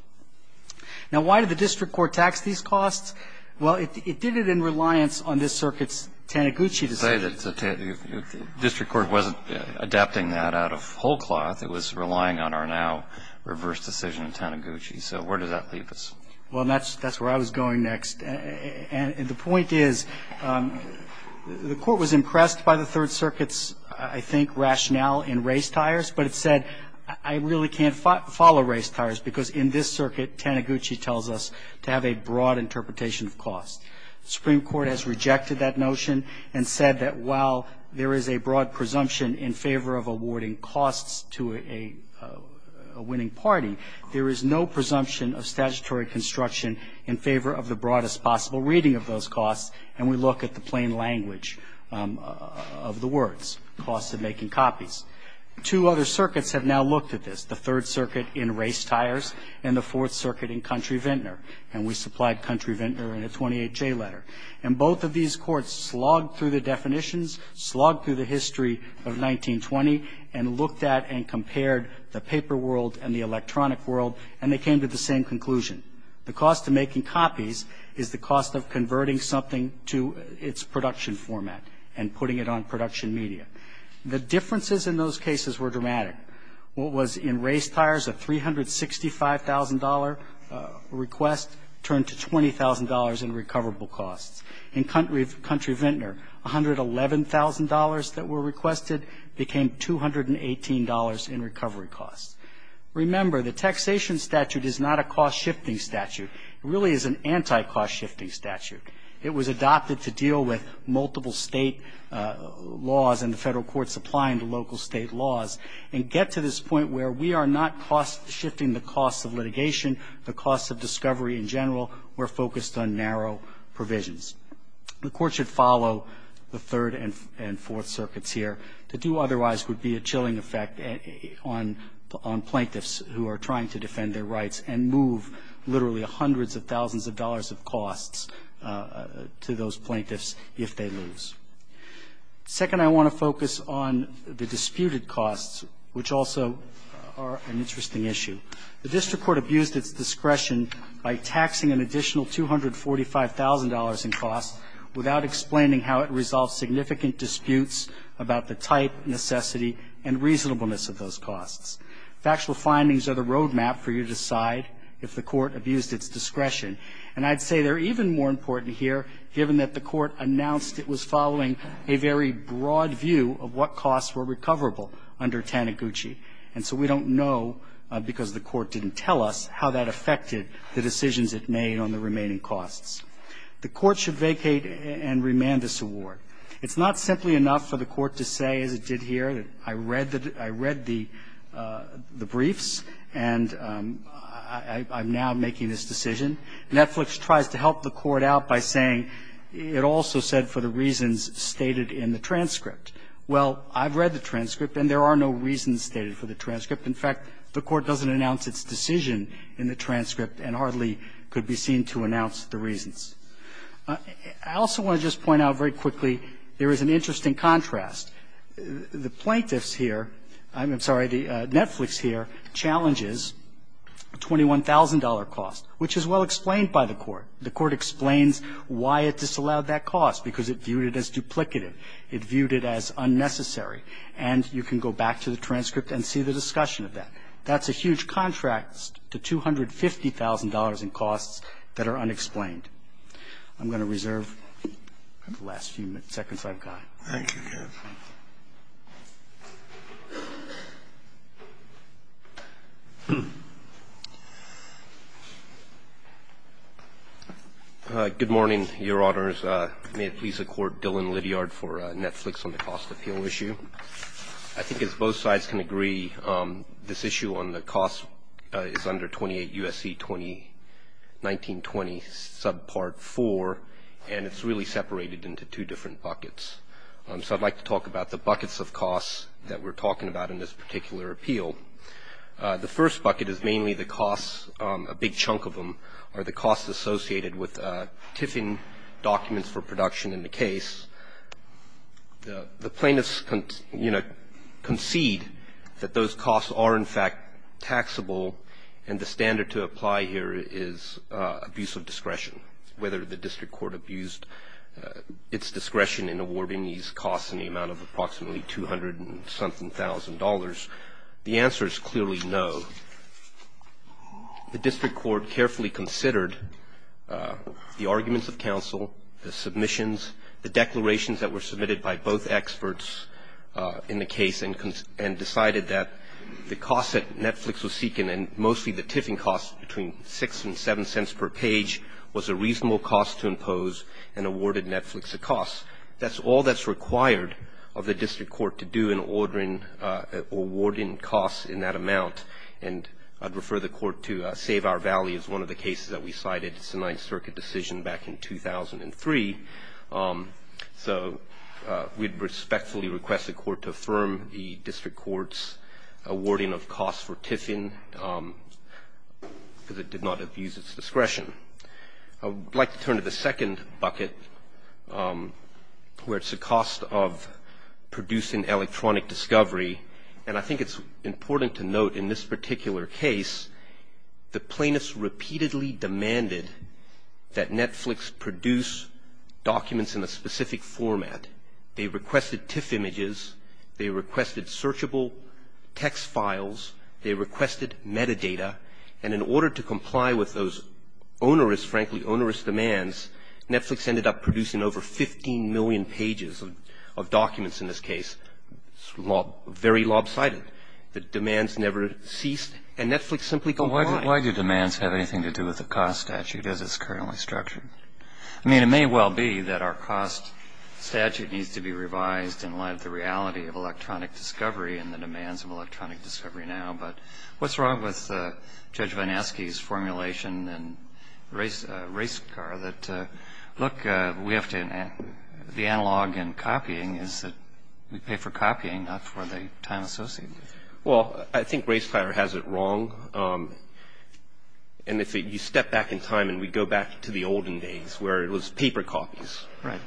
Now, why did the district court tax these costs? Well, it did it in reliance on this circuit's Taniguchi decision. The district court wasn't adapting that out of whole cloth. It was relying on our now reverse decision in Taniguchi. So where did that leave us? Well, that's where I was going next. And the point is, the Court was impressed by the Third Circuit's, I think, rationale in race tires, but it said, I really can't follow race tires because in this circuit, Taniguchi tells us to have a broad interpretation of cost. The Supreme Court has rejected that notion and said that while there is a broad presumption in favor of awarding costs to a winning party, there is no presumption of statutory construction in favor of the broadest possible reading of those costs, and we look at the plain language of the words, costs of making copies. Two other circuits have now looked at this, the Third Circuit in race tires and the Fourth Circuit in Country Vintner, and we supplied Country Vintner in a 28J letter. And both of these courts slogged through the definitions, slogged through the history of 1920, and looked at and compared the paper world and the electronic world, and they came to the same conclusion. The cost of making copies is the cost of converting something to its production format and putting it on production media. The differences in those cases were dramatic. What was in race tires, a $365,000 request turned to $20,000 in recoverable costs. In Country Vintner, $111,000 that were requested became $218 in recovery costs. Remember, the taxation statute is not a cost-shifting statute. It really is an anti-cost-shifting statute. It was adopted to deal with multiple state laws and the federal courts applying to local state laws and get to this point where we are not cost-shifting the cost of litigation, the cost of discovery in general. We're focused on narrow provisions. The Court should follow the Third and Fourth Circuits here. To do otherwise would be a chilling effect on plaintiffs who are trying to defend their rights and move literally hundreds of thousands of dollars of costs to those plaintiffs if they lose. Second, I want to focus on the disputed costs, which also are an interesting issue. The district court abused its discretion by taxing an additional $245,000 in costs without explaining how it resolves significant disputes about the type, necessity, and reasonableness of those costs. Factual findings are the road map for you to decide if the court abused its discretion. And I'd say they're even more important here, given that the Court announced it was following a very broad view of what costs were recoverable under Taniguchi. And so we don't know, because the Court didn't tell us, how that affected the decisions it made on the remaining costs. The Court should vacate and remand this award. It's not simply enough for the Court to say, as it did here, that I read the briefs and I'm now making this decision. Netflix tries to help the Court out by saying it also said for the reasons stated in the transcript. Well, I've read the transcript and there are no reasons stated for the transcript. In fact, the Court doesn't announce its decision in the transcript and hardly could be seen to announce the reasons. I also want to just point out very quickly, there is an interesting contrast. The plaintiffs here, I'm sorry, the Netflix here, challenges a $21,000 cost, which is well explained by the Court. The Court explains why it disallowed that cost, because it viewed it as duplicative. It viewed it as unnecessary. And you can go back to the transcript and see the discussion of that. That's a huge contrast to $250,000 in costs that are unexplained. I'm going to reserve the last few seconds I've got. Roberts. Good morning, Your Honors. May it please the Court, Dillon Liddyard for Netflix on the cost appeal issue. I think as both sides can agree, this issue on the cost is under 28 U.S.C. 2019-20 subpart 4, and it's really separated into two different buckets. So I'd like to talk about the buckets of costs that we're talking about in this particular appeal. The first bucket is mainly the costs, a big chunk of them, are the costs associated with tiffing documents for production in the case. The plaintiffs concede that those costs are, in fact, taxable, and the standard to apply here is abuse of discretion. Whether the district court abused its discretion in awarding these costs in the amount of approximately $200-something-thousand, the answer is clearly no. The district court carefully considered the arguments of counsel, the submissions, the declarations that were submitted by both experts in the case and decided that the costs that Netflix was seeking, and mostly the tiffing costs between 6 and 7 cents per page, was a reasonable cost to impose and awarded Netflix a cost. That's all that's required of the district court to do in awarding costs in that amount, and I'd refer the court to Save Our Valley as one of the cases that we cited. It's a Ninth Circuit decision back in 2003. So we'd respectfully request the court to affirm the district court's awarding of costs for tiffing because it did not abuse its discretion. I would like to turn to the second bucket, where it's the cost of producing electronic discovery, and I think it's important to note in this particular case the plaintiffs repeatedly demanded that Netflix produce documents in a specific format. They requested tiff images. They requested searchable text files. They requested metadata. And in order to comply with those onerous, frankly onerous demands, Netflix ended up producing over 15 million pages of documents in this case. It's very lopsided. The demands never ceased, and Netflix simply complied. Why do demands have anything to do with the cost statute as it's currently structured? I mean, it may well be that our cost statute needs to be revised in light of the reality of electronic discovery and the demands of electronic discovery now, but what's wrong with Judge Vineski's formulation in Race Car that, look, the analog in copying is that we pay for copying, not for the time associated with it? Well, I think Race Tire has it wrong. And if you step back in time and we go back to the olden days where it was paper copies. Right.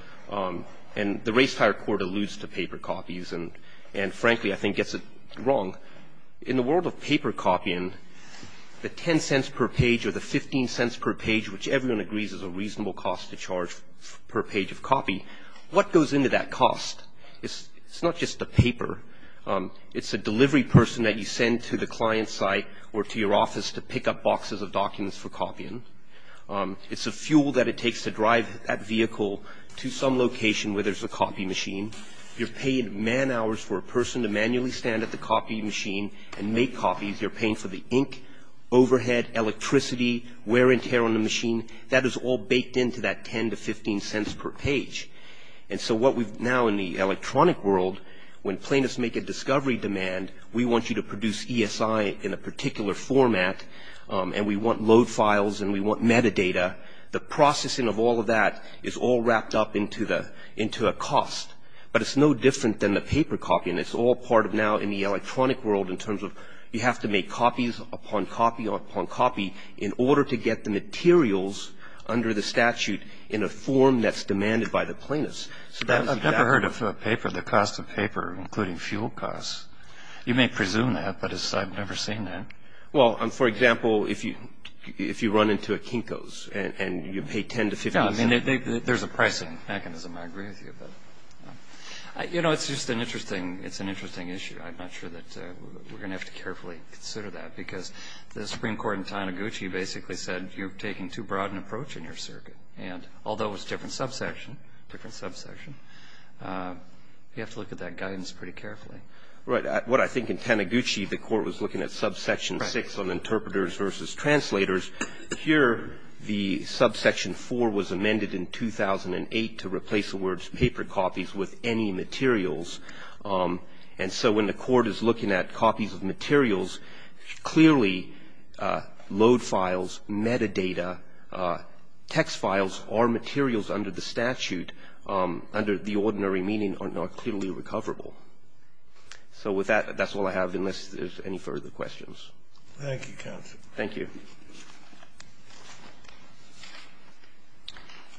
And the Race Tire Court alludes to paper copies and, frankly, I think gets it wrong. In the world of paper copying, the $0.10 per page or the $0.15 per page, which everyone agrees is a reasonable cost to charge per page of copy, what goes into that cost? It's not just the paper. It's a delivery person that you send to the client's site or to your office to pick up boxes of documents for copying. It's the fuel that it takes to drive that vehicle to some location where there's a copy machine. You're paying man hours for a person to manually stand at the copy machine and make copies. You're paying for the ink, overhead, electricity, wear and tear on the machine. That is all baked into that $0.10 to $0.15 per page. And so what we've now in the electronic world, when plaintiffs make a discovery demand, we want you to produce ESI in a particular format and we want load files and we want metadata. The processing of all of that is all wrapped up into a cost. But it's no different than the paper copying. It's all part of now in the electronic world in terms of you have to make copies upon copy upon copy in order to get the materials under the statute in a form that's demanded by the plaintiffs. I've never heard of paper, the cost of paper, including fuel costs. You may presume that, but I've never seen that. Well, for example, if you run into a Kinko's and you pay $0.10 to $0.15. There's a pricing mechanism. I agree with you. You know, it's just an interesting issue. I'm not sure that we're going to have to carefully consider that because the Supreme Court in Taniguchi basically said you're taking too broad an approach in your circuit. And although it's a different subsection, you have to look at that guidance pretty carefully. Right. What I think in Taniguchi the court was looking at subsection 6 on interpreters versus translators. Here the subsection 4 was amended in 2008 to replace the words paper copies with any materials. And so when the court is looking at copies of materials, clearly load files, metadata, text files or materials under the statute under the ordinary meaning are not clearly recoverable. So with that, that's all I have unless there's any further questions. Thank you, counsel. Thank you.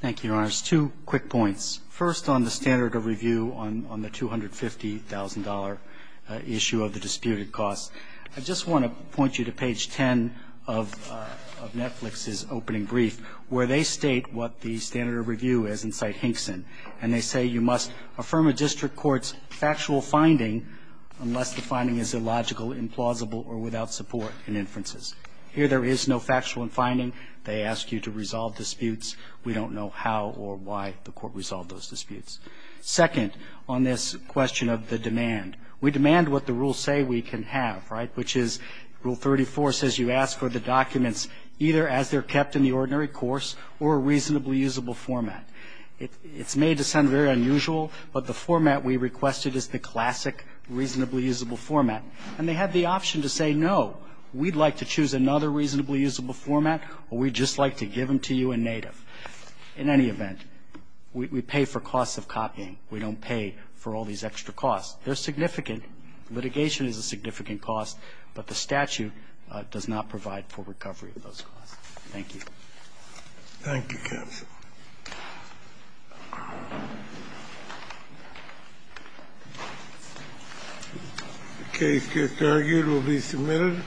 Thank you, Your Honors. Two quick points. First on the standard of review on the $250,000 issue of the disputed costs. I just want to point you to page 10 of Netflix's opening brief where they state what the standard of review is in Cite Hinkson. And they say you must affirm a district court's factual finding unless the finding is illogical, implausible or without support in inferences. Here there is no factual finding. They ask you to resolve disputes. We don't know how or why the court resolved those disputes. Second, on this question of the demand. We demand what the rules say we can have, right, which is Rule 34 says you ask for the documents either as they're kept in the ordinary course or a reasonably usable format. It's made to sound very unusual, but the format we requested is the classic reasonably usable format. And they have the option to say, no, we'd like to choose another reasonably usable format or we'd just like to give them to you in native. In any event, we pay for costs of copying. We don't pay for all these extra costs. They're significant. Litigation is a significant cost, but the statute does not provide for recovery of those costs. Thank you. Thank you, counsel. The case gets argued. It will be submitted.